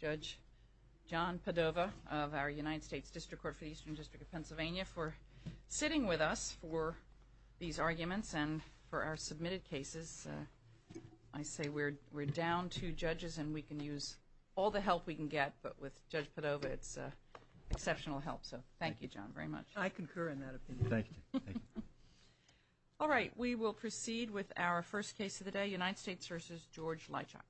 Judge John Padova of our United States District Court for the Eastern District of Pennsylvania for sitting with us for these arguments and for our submitted cases. I say we're we're down two judges and we can use all the help we can get but with Judge Padova it's exceptional help so thank you John very much. I concur in that opinion. Thank you. All right we will proceed with our first case of the day United States v. George Lychock.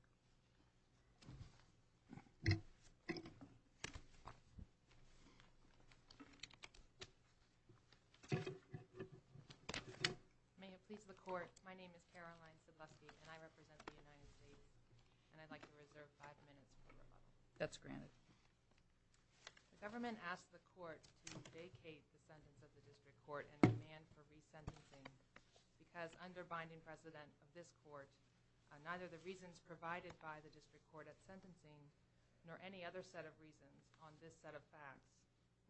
Neither the reasons provided by the District Court at sentencing nor any other set of reasons on this set of facts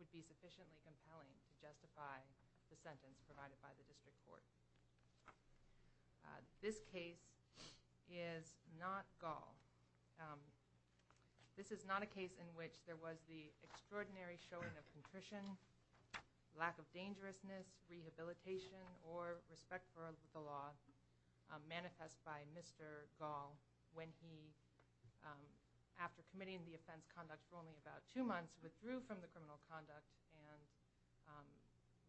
would be sufficiently compelling to justify the sentence provided by the District Court. This case is not gall. This is not a case in which there was the extraordinary showing of contrition, lack of dangerousness, rehabilitation, or respect for the law manifest by Mr. Gall when he after committing the offense conduct for only about two months withdrew from the criminal conduct and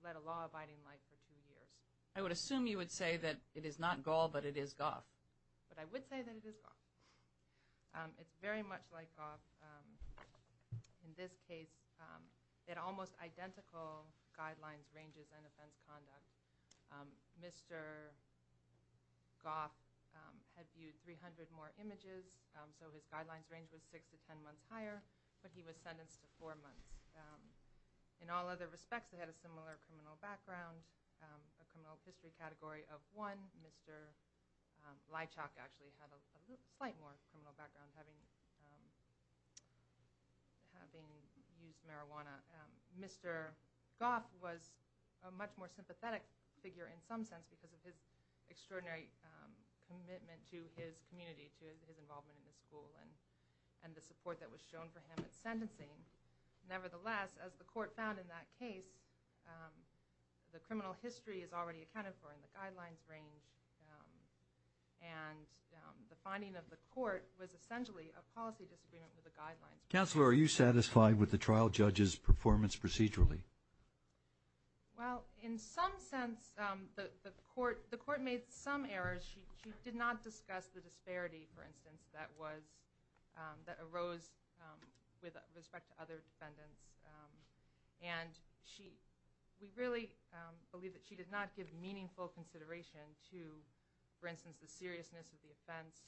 led a law-abiding life for two years. I would assume you would say that it is not gall but it is goth. But I would say that it is goth. It's very much like goth in this case. It almost identical guidelines ranges and offense conduct. Mr. goth had viewed 300 more images so his guidelines range was six to ten months higher but he was sentenced to four months. In all other respects they had a similar criminal background a history category of one. Mr. Lychock actually had a slight more criminal background having used marijuana. Mr. goth was a much more sympathetic figure in some sense because of his extraordinary commitment to his community to his involvement in the school and and the support that was shown for him at sentencing. Nevertheless as the court found in that case the guidelines range and the finding of the court was essentially a policy disagreement with the guidelines. Counselor are you satisfied with the trial judges performance procedurally? Well in some sense the court the court made some errors. She did not discuss the disparity for instance that was that arose with respect to other defendants and she we really believe that she did not give meaningful consideration to for instance the seriousness of the offense.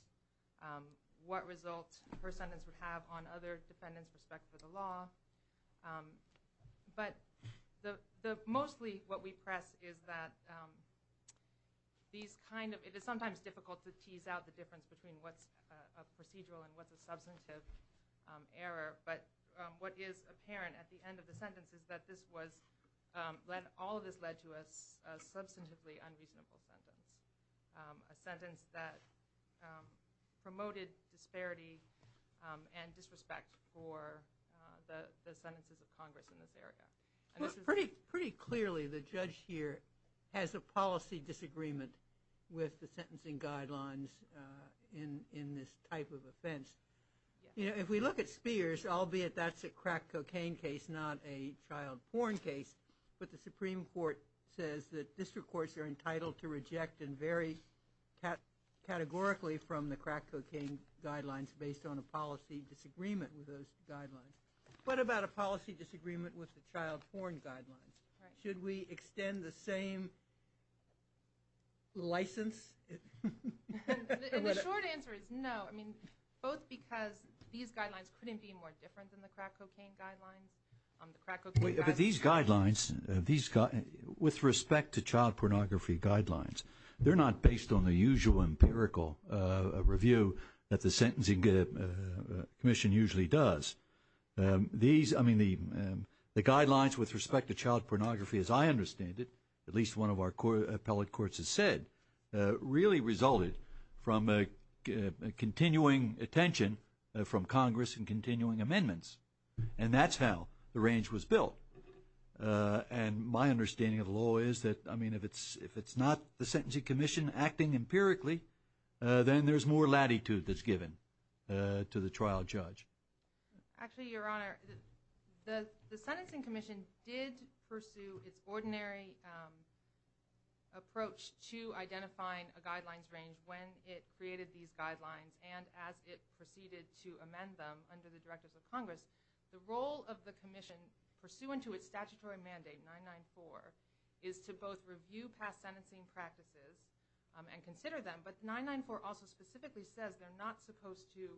What result her sentence would have on other defendants respect for the law but the the mostly what we press is that these kind of it is sometimes difficult to tease out the difference between what's a procedural and what's a substantive error but what is apparent at the end of the sentence is that this was let all of this led to us a substantively unreasonable sentence a sentence that promoted disparity and disrespect for the sentences of Congress in this area. Pretty pretty clearly the judge here has a policy disagreement with the sentencing guidelines in in this type of offense you know if we look at Spears albeit that's a crack cocaine case not a child porn case but the Supreme Court says that district courts are entitled to reject and very categorically from the crack cocaine guidelines based on a policy disagreement with those guidelines. What about a policy disagreement with the child porn guidelines? Should we extend the same license? The short answer is no I mean both because these guidelines couldn't be more different than the crack cocaine guidelines. These guidelines these got with respect to child pornography guidelines they're not based on the usual empirical review that the Sentencing Commission usually does. These I mean the the guidelines with respect to child pornography as I understand it at least one of our core appellate courts has said really resulted from a continuing attention from Congress and continuing amendments and that's how the range was built and my understanding of the law is that I mean if it's if it's not the Sentencing Commission acting empirically then there's more latitude that's given to the trial judge. Actually your honor the the Sentencing Commission did pursue its ordinary approach to identifying a guidelines range when it created these guidelines and as it proceeded to amend them under the Directors of Congress. The role of the Commission pursuant to its statutory mandate 994 is to both review past sentencing practices and consider them but 994 also specifically says they're not supposed to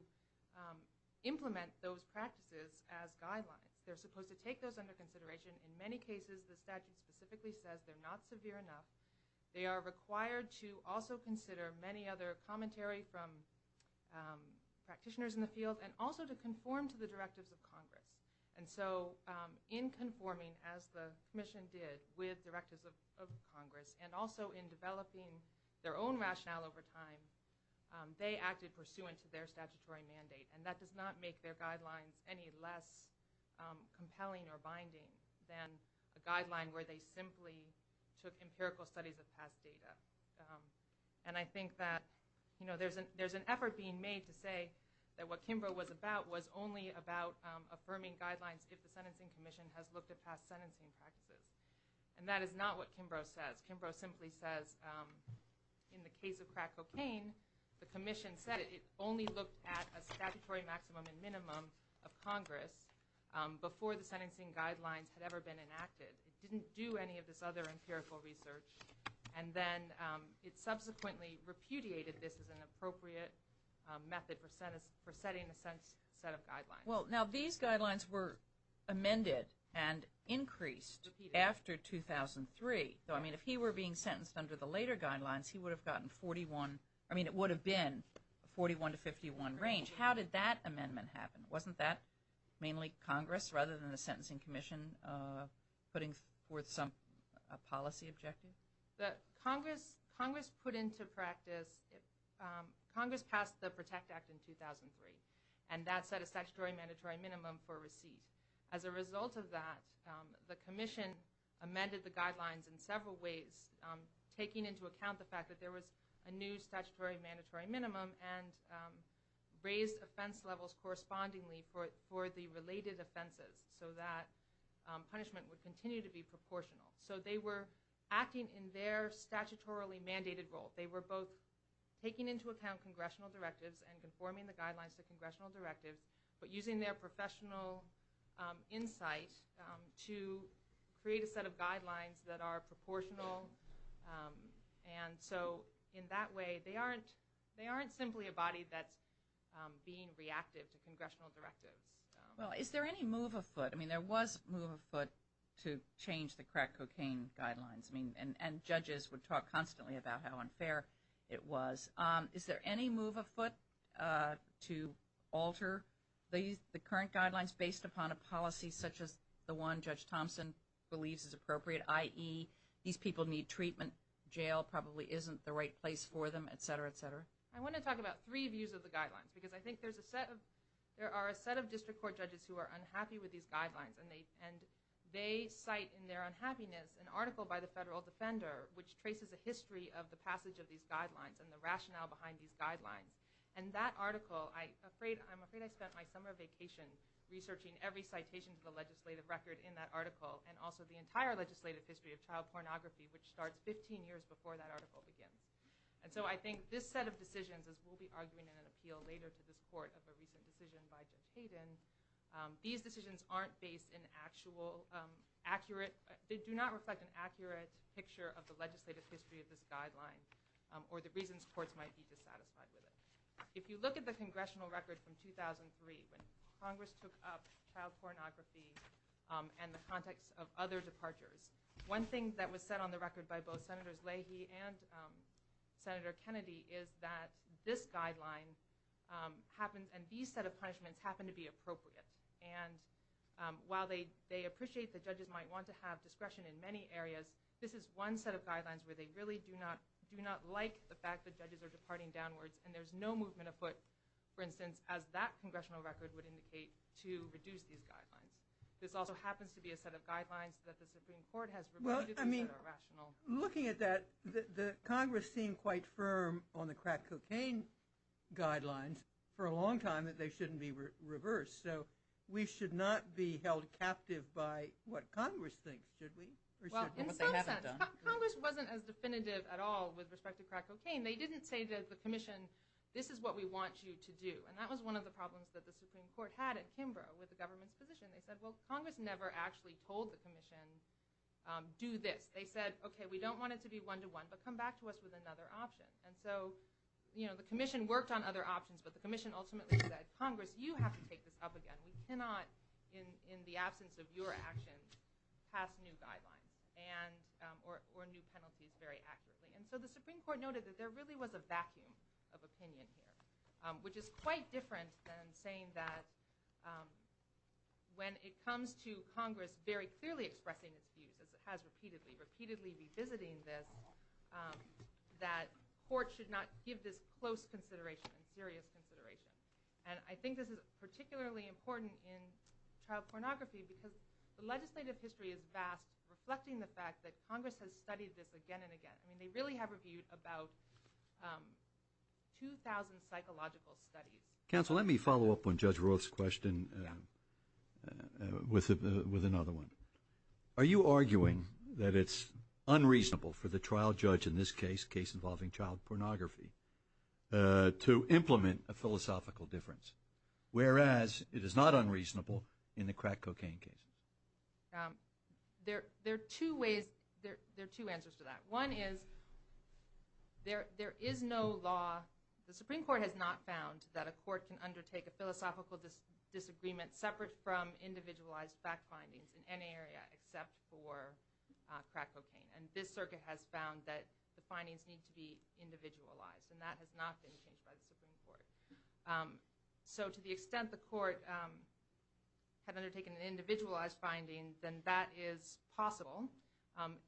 implement those practices as guidelines. They're supposed to take those under consideration in many cases the statute specifically says they're not severe enough. They are required to also consider many other commentary from practitioners in the field and also to conform to the Directives of Congress and so in conforming as the Commission did with Directives of Congress and also in developing their own rationale over time they acted pursuant to their statutory mandate and that does not make their guidelines any less compelling or empirical studies of past data and I think that you know there's an there's an effort being made to say that what Kimbrough was about was only about affirming guidelines if the Sentencing Commission has looked at past sentencing practices and that is not what Kimbrough says. Kimbrough simply says in the case of crack cocaine the Commission said it only looked at a statutory maximum and minimum of Congress before the sentencing guidelines had ever been and then it subsequently repudiated this as an appropriate method for setting a set of guidelines. Well now these guidelines were amended and increased after 2003 so I mean if he were being sentenced under the later guidelines he would have gotten 41 I mean it would have been 41 to 51 range how did that amendment happen wasn't that mainly Congress rather than the Congress Congress put into practice Congress passed the Protect Act in 2003 and that set a statutory mandatory minimum for receipt as a result of that the Commission amended the guidelines in several ways taking into account the fact that there was a new statutory mandatory minimum and raised offense levels correspondingly for it for the related offenses so that punishment would continue to be proportional so they were acting in their statutorily mandated role they were both taking into account congressional directives and conforming the guidelines to congressional directive but using their professional insight to create a set of guidelines that are proportional and so in that way they aren't they aren't simply a body that's being reactive to congressional directives. Well is there any move afoot I mean there was move afoot to change the crack cocaine guidelines I mean and judges would talk constantly about how unfair it was is there any move afoot to alter these the current guidelines based upon a policy such as the one Judge Thompson believes is appropriate ie these people need treatment jail probably isn't the right place for them etc etc. I want to talk about three views of the guidelines because I think there's a set of there are a set of district court judges who are unhappy with these guidelines and they and they cite in their unhappiness an article by the federal defender which traces a history of the passage of these guidelines and the rationale behind these guidelines and that article I afraid I'm afraid I spent my summer vacation researching every citation to the legislative record in that article and also the entire legislative history of child pornography which starts 15 years before that article begins and so I think this set of decisions as we'll be arguing in an appeal later to this these decisions aren't based in actual accurate they do not reflect an accurate picture of the legislative history of this guideline or the reasons courts might be dissatisfied with it if you look at the congressional record from 2003 when Congress took up child pornography and the context of other departures one thing that was set on the record by both Senators Leahy and Senator Kennedy is that this guideline happens and these set of punishments happen to be appropriate and while they they appreciate the judges might want to have discretion in many areas this is one set of guidelines where they really do not do not like the fact that judges are departing downwards and there's no movement of foot for instance as that congressional record would indicate to reduce these guidelines this also happens to be a set of guidelines that the Supreme Court has well I mean rational looking at that the Congress seemed quite firm on the crack cocaine guidelines for a long time that they shouldn't be reversed so we should not be held captive by what Congress thinks should we Congress wasn't as definitive at all with respect to crack cocaine they didn't say that the Commission this is what we want you to do and that was one of the problems that the Supreme Court had in Kimbrough with the government's position they said well Congress never actually told the Commission do this they said okay we don't want it to be one-to-one but come back to us with another option and so you know the Commission worked on other options but the Commission ultimately said Congress you have to take this up again we cannot in in the absence of your actions pass new guidelines and or new penalties very accurately and so the Supreme Court noted that there really was a vacuum of opinion here which is quite different than saying that when it comes to Congress very clearly expressing its views as it has repeatedly repeatedly be visiting this that court should not give this close consideration serious consideration and I think this is particularly important in child pornography because the legislative history is vast reflecting the fact that Congress has studied this again and again I mean they really have reviewed about 2,000 psychological studies counsel let me follow up on judge Rose question with with another one are you arguing that it's unreasonable for the trial judge in this case case involving child pornography to implement a philosophical difference whereas it is not unreasonable in the crack cocaine case there there are two ways there are two answers to that one is there there is no law the Supreme Court has not found that a court can undertake a philosophical disagreement separate from individualized fact findings in any area except for crack cocaine and this circuit has found that the findings need to be individualized and that has not been changed by the Supreme Court so to the extent the court had undertaken an individualized finding then that is possible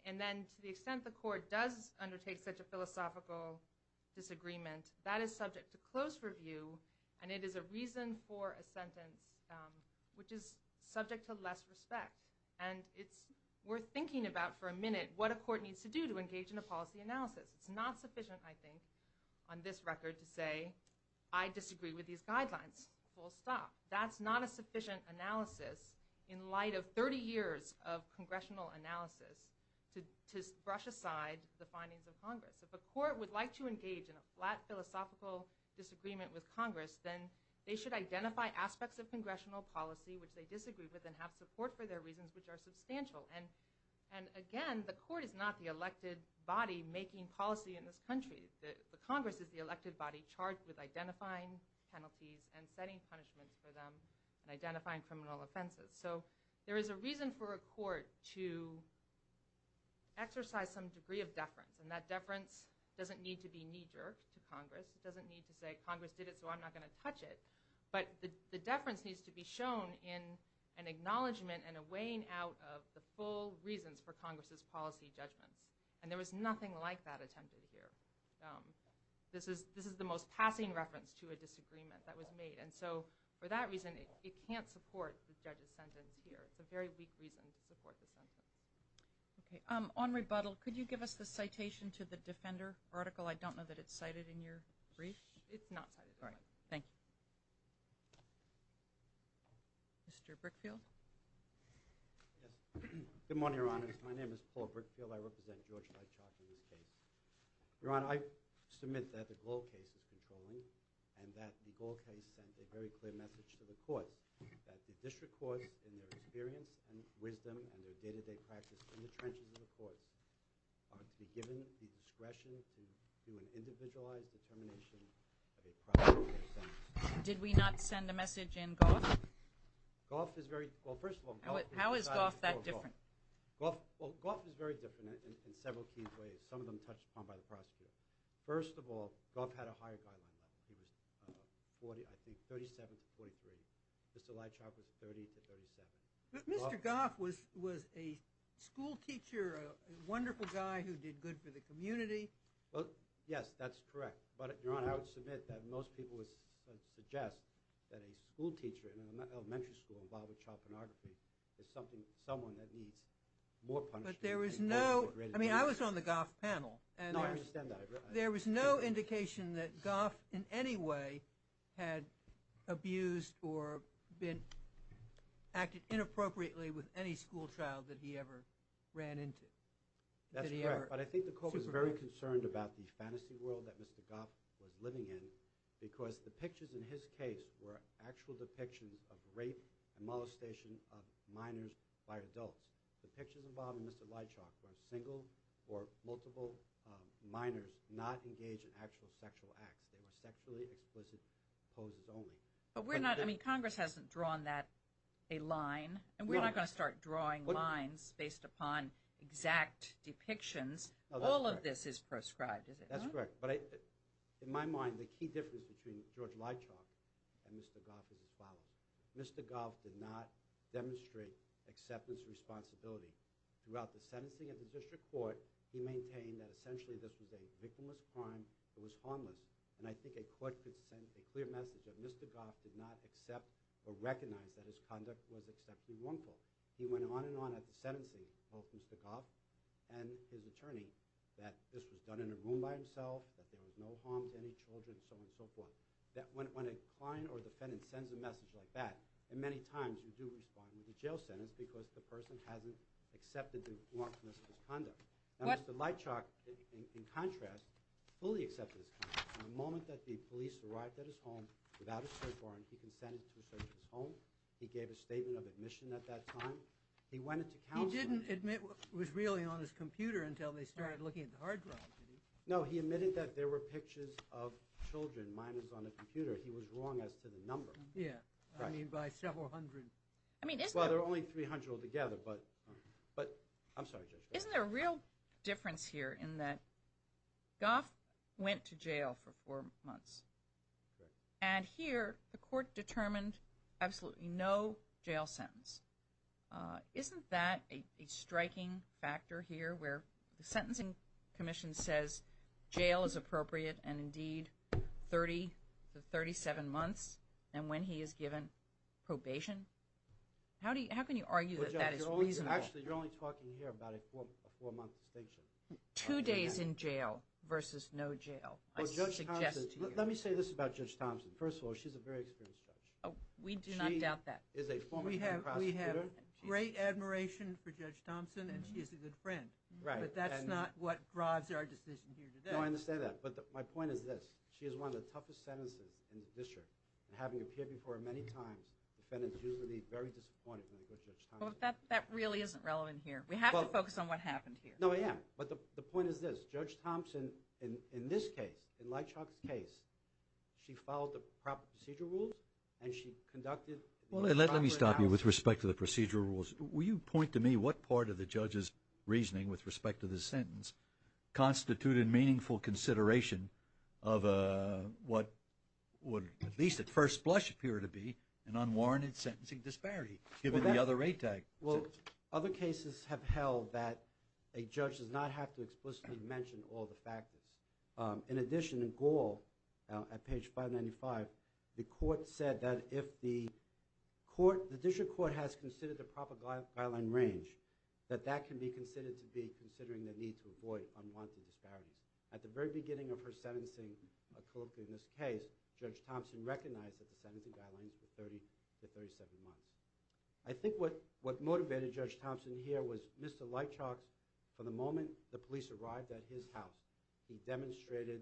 and then to the extent the court does undertake such a philosophical disagreement that is subject to close review and it is a for a sentence which is subject to less respect and it's worth thinking about for a minute what a court needs to do to engage in a policy analysis it's not sufficient I think on this record to say I disagree with these guidelines full stop that's not a sufficient analysis in light of 30 years of congressional analysis to brush aside the findings of Congress if a court would like to engage in a flat philosophical disagreement with Congress then they should identify aspects of congressional policy which they disagree with and have support for their reasons which are substantial and and again the court is not the elected body making policy in this country the Congress is the elected body charged with identifying penalties and setting punishments for them and identifying criminal offenses so there is a reason for a court to exercise some degree of to Congress it doesn't need to say Congress did it so I'm not going to touch it but the deference needs to be shown in an acknowledgment and a weighing out of the full reasons for Congress's policy judgments and there was nothing like that attempted here this is this is the most passing reference to a disagreement that was made and so for that reason it can't support the judge's sentence here it's a very weak reason to support the sentence. Okay on rebuttal could you give us the citation to the Defender article I don't know that it's cited in your brief. It's not cited. Thank you. Mr. Brickfield. Good morning Your Honor. My name is Paul Brickfield. I represent George Light Chalk in this case. Your Honor, I submit that the Gall case is controlling and that the Gall case sent a very clear message to the courts that the district courts in their experience and wisdom and their day-to-day practice in the trenches of the courts are to be given the discretion to do an individualized determination of a prosecutorial sentence. Did we not send a message in Goff? How is Goff that different? Goff is very different in several key ways. Some of them touched upon by the prosecutor. First of all, Goff had a higher guideline level. He was 37 to 43. Mr. Light Chalk was 30 to 37. Mr. Goff was a school teacher, a wonderful guy who did good for the community. Yes, that's correct. But Your Honor, I would submit that most people would suggest that a school teacher in an elementary school involved with child pornography is someone that needs more punishment. I was on the Goff panel and there was no indication that Goff in any way had abused or acted inappropriately with any school child that he ever ran into. That's correct. But I think the court was very concerned about the fantasy world that Mr. Goff was living in because the pictures in his case were actual depictions of rape and molestation of minors by adults. The pictures involving Mr. Light Chalk were single or multiple minors not engaged in actual sexual acts. They were sexually explicit poses only. But we're not, I mean Congress hasn't drawn that a line and we're not going to start drawing lines based upon exact depictions. All of this is proscribed. That's correct. But in my mind, the key difference between George Light Chalk and Mr. Goff is as follows. Mr. Goff did not demonstrate acceptance or responsibility. Throughout the sentencing of the district court, he maintained that essentially this was a victimless crime. It was harmless. And I think a court could send a clear message that Mr. Goff did not accept or recognize that his conduct was exceptionally harmful. He went on and on at the sentencing of Mr. Goff and his attorney that this was done in a room by himself, that there was no harm to any children and so on and so forth. When a client or defendant sends a message like that, and many times you do respond with a jail sentence because the person hasn't accepted the lawfulness of his conduct. Mr. Light Chalk, in contrast, fully accepted his conduct. The moment that the police arrived at his home without a search warrant, he consented to a search of his home. He gave a statement of admission at that time. He went into counsel. He didn't admit what was really on his computer until they started looking at the hard drive. No, he admitted that there were pictures of children. Mine was on the computer. He was wrong as to the number. Yeah, I mean by several hundred. Well, there were only 300 altogether, but I'm sorry, Judge. Isn't there a real difference here in that Goff went to jail for four months and here the court determined absolutely no jail sentence. Isn't that a striking factor here where the sentencing commission says jail is appropriate and indeed 30 to 37 months and when he is given probation? How can you argue that that is reasonable? Actually, you're only talking here about a four month distinction. Two days in jail versus no jail, I suggest to you. Let me say this about Judge Thompson. First of all, she's a very experienced judge. We do not doubt that. She is a former head prosecutor. We have great admiration for Judge Thompson and she is a good friend. Right. But that's not what drives our decision here today. No, I understand that, but my point is this. She has one of the toughest sentences in the district and having appeared before her many times, defendants usually leave very disappointed when they go to Judge Thompson. That really isn't relevant here. We have to focus on what happened here. No, I am. But the point is this. Judge Thompson, in this case, in Lightshock's case, she followed the proper procedural rules and she conducted the proper analysis. With respect to the procedural rules, will you point to me what part of the judge's reasoning with respect to this sentence constituted meaningful consideration of what would at least at first blush appear to be an unwarranted sentencing disparity given the other rate tag? Well, other cases have held that a judge does not have to explicitly mention all the factors. In addition, in Gall, at page 595, the court said that if the court, the district court has considered the proper guideline range, that that can be considered to be considering the need to avoid unwarranted disparities. At the very beginning of her sentencing, in this case, Judge Thompson recognized that the sentencing guidelines were 30 to 37 months. I think what motivated Judge Thompson here was Mr. Lightshock, from the moment the police arrived at his house, he demonstrated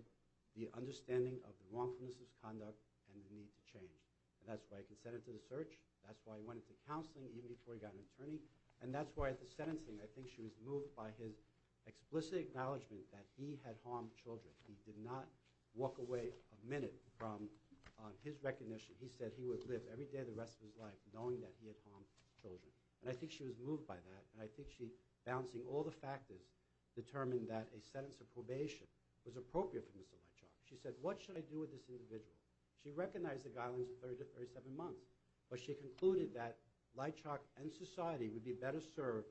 the understanding of the wrongfulness of his conduct and the need to change. And that's why he consented to the search. That's why he went into counseling even before he got an attorney. And that's why at the sentencing, I think she was moved by his explicit acknowledgment that he had harmed children. He did not walk away a minute from his recognition. He said he would live every day of the rest of his life knowing that he had harmed children. And I think she was moved by that, and I think she, balancing all the factors, determined that a sentence of probation was appropriate for Mr. Lightshock. She said, what should I do with this individual? She recognized the guidelines of 30 to 37 months, but she concluded that Lightshock and society would be better served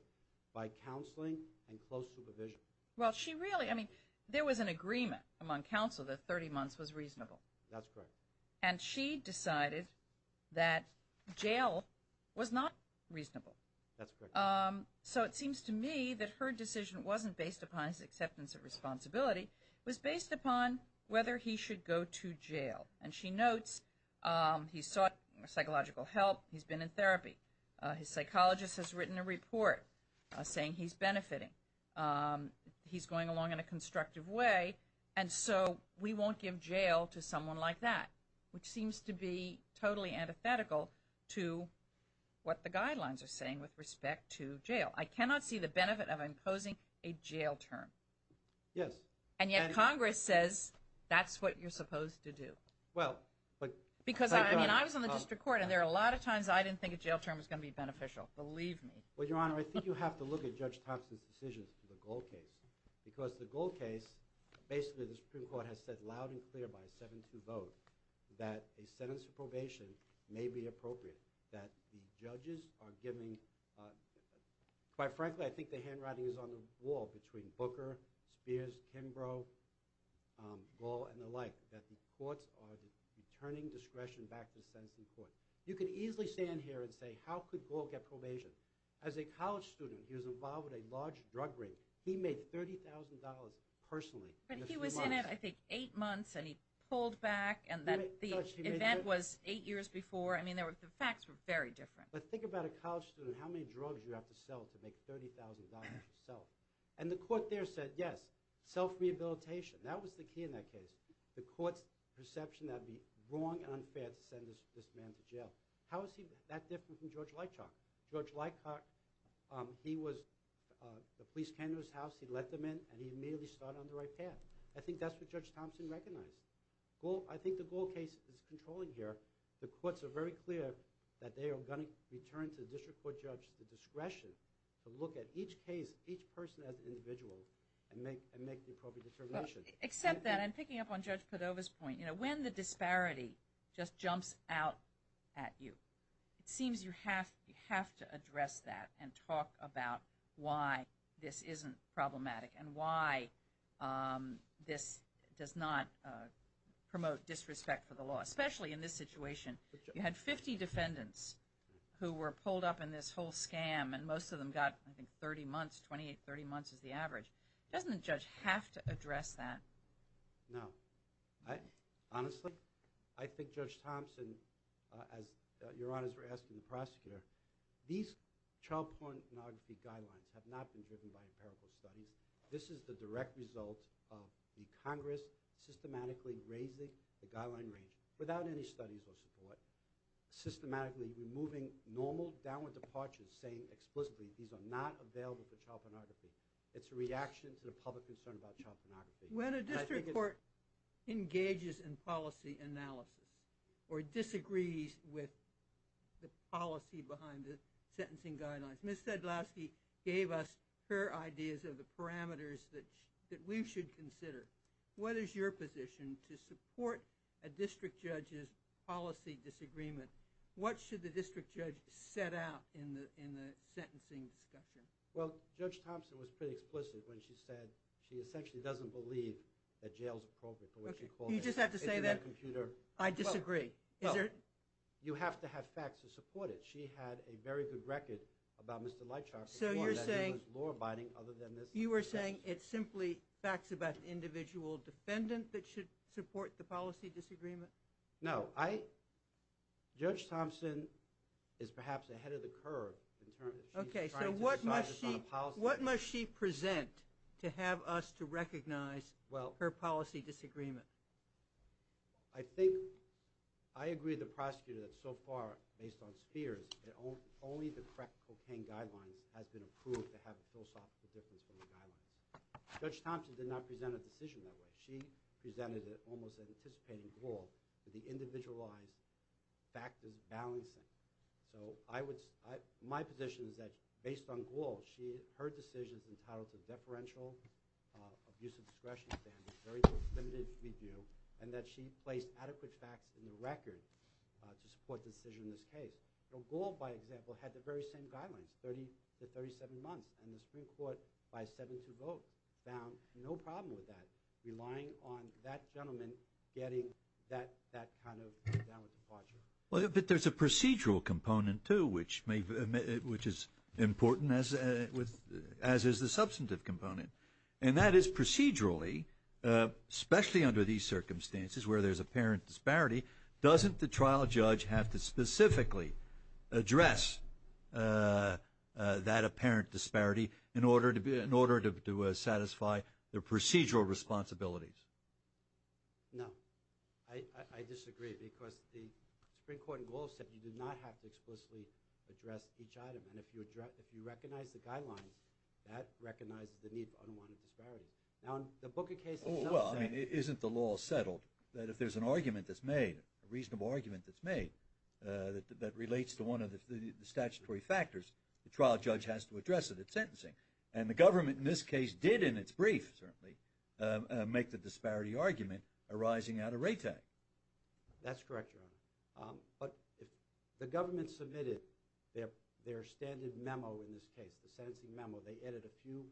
by counseling and close supervision. Well, she really, I mean, there was an agreement among counsel that 30 months was reasonable. That's correct. And she decided that jail was not reasonable. That's correct. So it seems to me that her decision wasn't based upon his acceptance of responsibility. It was based upon whether he should go to jail. And she notes he sought psychological help. He's been in therapy. His psychologist has written a report saying he's benefiting. He's going along in a constructive way. And so we won't give jail to someone like that, which seems to be totally antithetical to what the guidelines are saying with respect to jail. I cannot see the benefit of imposing a jail term. Yes. And yet Congress says that's what you're supposed to do. Well, but. Because, I mean, I was on the district court, and there are a lot of times I didn't think a jail term was going to be beneficial. Believe me. Well, Your Honor, I think you have to look at Judge Thompson's decisions for the Gall case. Because the Gall case, basically the Supreme Court has said loud and clear by a 7-2 vote that a sentence of probation may be appropriate, that the judges are giving, quite frankly, I think the handwriting is on the wall between Booker, Spears, Kimbrough, Gall, and the like, that the courts are returning discretion back to the sentencing court. You could easily stand here and say, how could Gall get probation? As a college student, he was involved with a large drug ring. He made $30,000 personally. But he was in it, I think, eight months, and he pulled back, and the event was eight years before. I mean, the facts were very different. But think about a college student, how many drugs do you have to sell to make $30,000 yourself? And the court there said, yes, self-rehabilitation. That was the key in that case. The court's perception that it would be wrong and unfair to send this man to jail. How is he that different from George Leitchock? George Leitchock, he was the police candidate in his house. He let them in, and he immediately started on the right path. I think that's what Judge Thompson recognized. I think the Gall case is controlling here. The courts are very clear that they are going to return to the district court judge the discretion to look at each case, each person as an individual, and make the appropriate determination. Except that, and picking up on Judge Cordova's point, you know, when the disparity just jumps out at you, it seems you have to address that and talk about why this isn't problematic and why this does not promote disrespect for the law, especially in this situation. You had 50 defendants who were pulled up in this whole scam, and most of them got, I think, 30 months, 28, 30 months is the average. Doesn't a judge have to address that? No. Honestly, I think Judge Thompson, as Your Honors were asking the prosecutor, these child pornography guidelines have not been driven by empirical studies. This is the direct result of the Congress systematically raising the guideline range without any studies or support, systematically removing normal downward departures, saying explicitly these are not available for child pornography. It's a reaction to the public concern about child pornography. When a district court engages in policy analysis or disagrees with the policy behind the sentencing guidelines, Ms. Sedlowski gave us fair ideas of the parameters that we should consider. What is your position to support a district judge's policy disagreement? What should the district judge set out in the sentencing discussion? Well, Judge Thompson was pretty explicit when she said she essentially doesn't believe that jail is appropriate for what she calls a computer. You just have to say that? I disagree. You have to have facts to support it. She had a very good record about Mr. Leitchoff. You were saying it's simply facts about the individual defendant that should support the policy disagreement? No. Judge Thompson is perhaps ahead of the curve. Okay, so what must she present to have us to recognize her policy disagreement? I think I agree with the prosecutor that so far, based on spheres, only the correct cocaine guidelines has been approved to have a philosophical difference from the guidelines. Judge Thompson did not present a decision that way. She presented almost an anticipating rule that the individualized fact is balancing. So my position is that, based on Gould, her decision is entitled to deferential abuse of discretion standards, very limited review, and that she placed adequate facts in the record to support the decision in this case. Gould, by example, had the very same guidelines, 30 to 37 months, and the Supreme Court, by a 7-2 vote, found no problem with that, relying on that gentleman getting that kind of downward departure. But there's a procedural component, too, which is important, as is the substantive component, and that is procedurally, especially under these circumstances where there's apparent disparity, doesn't the trial judge have to specifically address that apparent disparity in order to satisfy the procedural responsibilities? No. I disagree, because the Supreme Court in Gould said you do not have to explicitly address each item, and if you recognize the guidelines, that recognizes the need for unwanted disparity. Now, in the Booker case, it's not the same. Well, I mean, isn't the law settled that if there's an argument that's made, a reasonable argument that's made, that relates to one of the statutory factors, the trial judge has to address it at sentencing? And the government, in this case, did, in its brief, certainly, make the disparity argument arising out of retake. That's correct, Your Honor. But the government submitted their standard memo in this case, the sentencing memo. They added a few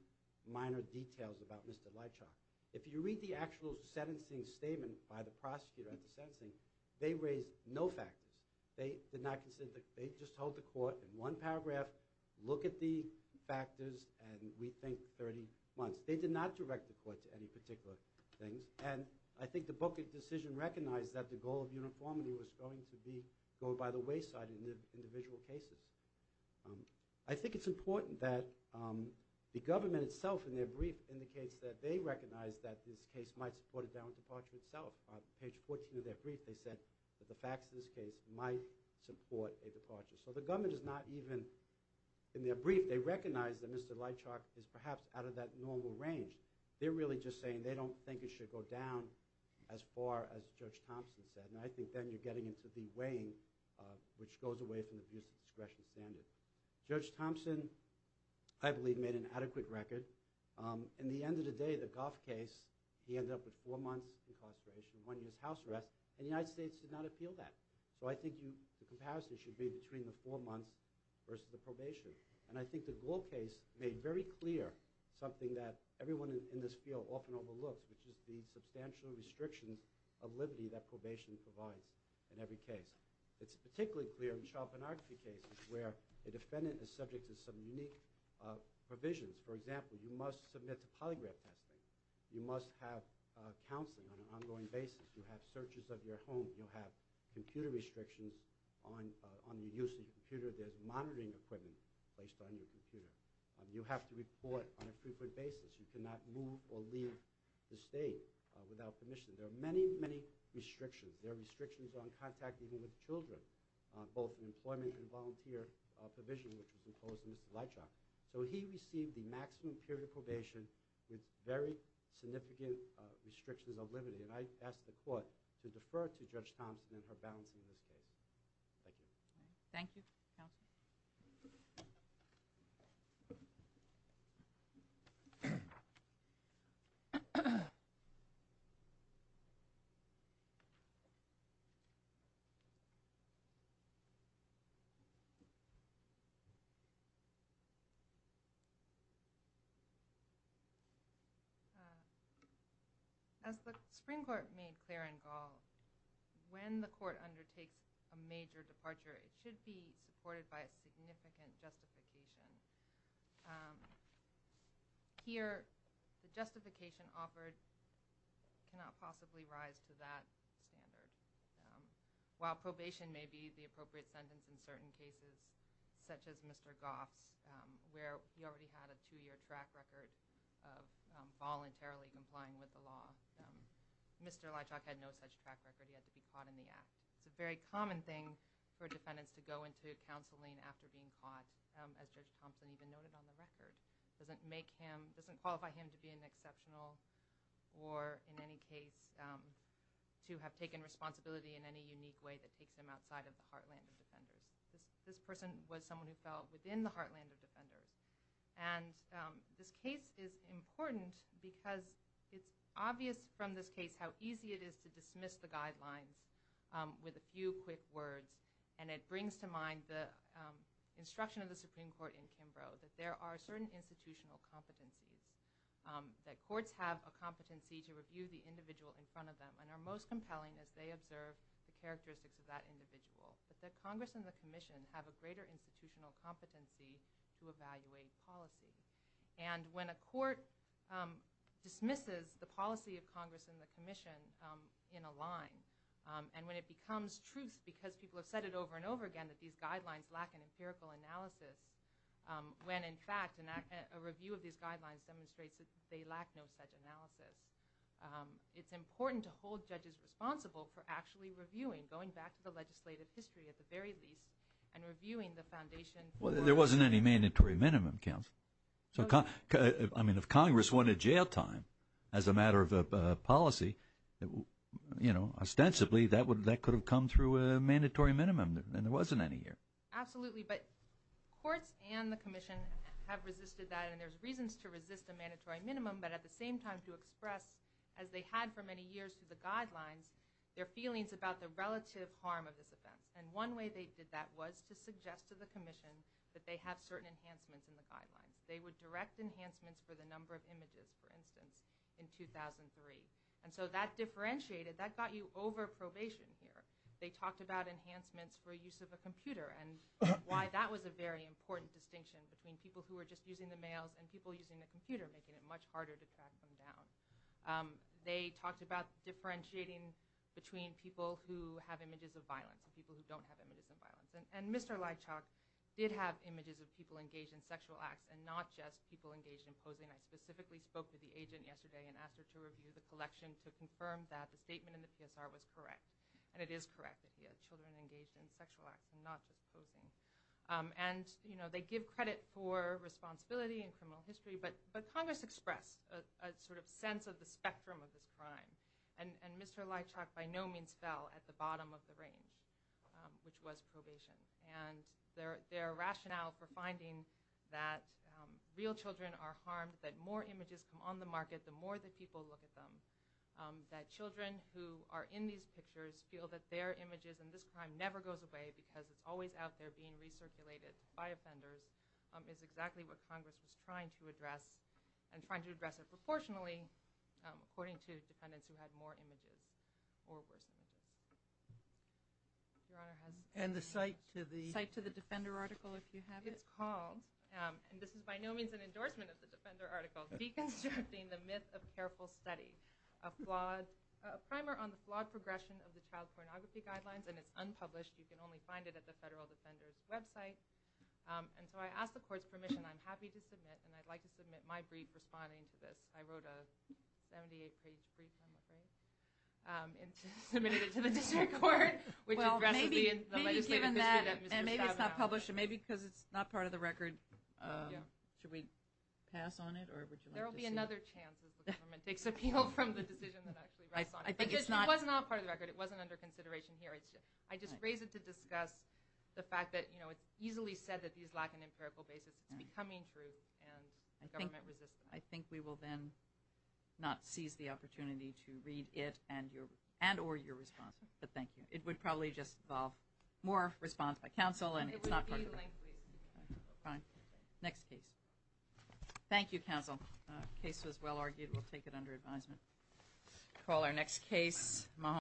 minor details about Mr. Leitchoff. If you read the actual sentencing statement by the prosecutor at the sentencing, they raised no factors. They did not consider the—they just told the court in one paragraph, look at the factors, and we think 30 months. They did not direct the court to any particular things, and I think the Booker decision recognized that the goal of uniformity was going to be going by the wayside in the individual cases. I think it's important that the government itself, in their brief, indicates that they recognize that this case might support a downward departure itself. On page 14 of their brief, they said that the facts of this case might support a departure. So the government is not even—in their brief, they recognize that Mr. Leitchoff is perhaps out of that normal range. They're really just saying they don't think it should go down as far as Judge Thompson said, and I think then you're getting into the weighing, which goes away from the abuse of discretion standard. Judge Thompson, I believe, made an adequate record. In the end of the day, the Goff case, he ended up with four months' incarceration and one year's house arrest, and the United States did not appeal that. So I think the comparison should be between the four months versus the probation, and I think the Gold case made very clear something that everyone in this field often overlooks, which is the substantial restrictions of liberty that probation provides in every case. It's particularly clear in child pornography cases where a defendant is subject to some unique provisions. For example, you must submit to polygraph testing. You must have counseling on an ongoing basis. You have searches of your home. You have computer restrictions on the use of your computer. There's monitoring equipment placed on your computer. You have to report on a frequent basis. You cannot move or leave the state without permission. There are many, many restrictions. There are restrictions on contact even with children, both in employment and volunteer provision, which was imposed on Mr. Leitchoff. So he received the maximum period of probation with very significant restrictions of liberty, and I ask the court to defer to Judge Thompson and her balance in this case. Thank you. Thank you, Counsel. As the Supreme Court made clear in Gall, when the court undertakes a major departure, it should be supported by a significant justification. Here, the justification offered cannot possibly rise to that standard. While probation may be the appropriate sentence in certain cases, such as Mr. Goff's, where he already had a two-year track record of voluntarily complying with the law, Mr. Leitchoff had no such track record. He had to be caught in the act. It's a very common thing for defendants to go into counseling after being caught, as Judge Thompson even noted on the record. It doesn't qualify him to be an exceptional or, in any case, to have taken responsibility in any unique way that takes him outside of the heartland of defenders. This person was someone who fell within the heartland of defenders. This case is important because it's obvious from this case how easy it is to dismiss the guidelines with a few quick words. It brings to mind the instruction of the Supreme Court in Kimbrough that there are certain institutional competencies, that courts have a competency to review the individual in front of them and are most compelling as they observe the characteristics of that individual, but that Congress and the Commission have a greater institutional competency to evaluate policy. When a court dismisses the policy of Congress and the Commission in a line and when it becomes truth because people have said it over and over again that these guidelines lack an empirical analysis, when, in fact, a review of these guidelines demonstrates that they lack no such analysis, it's important to hold judges responsible for actually reviewing, going back to the legislative history at the very least, and reviewing the foundation. Well, there wasn't any mandatory minimum, Counsel. I mean, if Congress wanted jail time as a matter of policy, ostensibly that could have come through a mandatory minimum, and there wasn't any here. Absolutely, but courts and the Commission have resisted that, and there's reasons to resist a mandatory minimum, but at the same time to express, as they had for many years through the guidelines, their feelings about the relative harm of this offense. And one way they did that was to suggest to the Commission that they have certain enhancements in the guidelines. They would direct enhancements for the number of images, for instance, in 2003. And so that differentiated, that got you over probation here. They talked about enhancements for use of a computer and why that was a very important distinction between people who were just using the mails and people using the computer, making it much harder to track them down. They talked about differentiating between people who have images of violence and people who don't have images of violence. And Mr. Leitchok did have images of people engaged in sexual acts and not just people engaged in posing. I specifically spoke to the agent yesterday and asked her to review the collection to confirm that the statement in the PSR was correct. And it is correct that he had children engaged in sexual acts and not just posing. And, you know, they give credit for responsibility and criminal history, but Congress expressed a sort of sense of the spectrum of this crime. And Mr. Leitchok by no means fell at the bottom of the range, which was probation. And their rationale for finding that real children are harmed, that more images come on the market the more that people look at them, that children who are in these pictures feel that their images and this crime never goes away because it's always out there being recirculated by offenders is exactly what Congress was trying to address and trying to address it proportionally according to defendants who had more images or worse images. Your Honor, has the site to the Defender article, if you have it? It's called, and this is by no means an endorsement of the Defender article, deconstructing the myth of careful study, a primer on the flawed progression of the child pornography guidelines, and it's unpublished. You can only find it at the Federal Defender's website. And so I asked the Court's permission. I'm happy to submit, and I'd like to submit my brief responding to this. I wrote a 78-page brief, I'm afraid, and submitted it to the District Court, which addresses the legislative history that Mr. Stabenow – Well, maybe given that, and maybe it's not published, and maybe because it's not part of the record, should we pass on it, or would you like to see it? There will be another chance if the government takes appeal from the decision that actually rests on it. I think it's not – Because it was not part of the record. It wasn't under consideration here. I just raise it to discuss the fact that, you know, it's easily said that these lack an empirical basis. It's becoming true, and the government resists them. I think we will then not seize the opportunity to read it and or your response, but thank you. It would probably just involve more response by counsel, and it's not part of the record. It would be linked, please. Fine. Next case. Thank you, counsel. The case was well argued. We'll take it under advisement. We'll call our next case.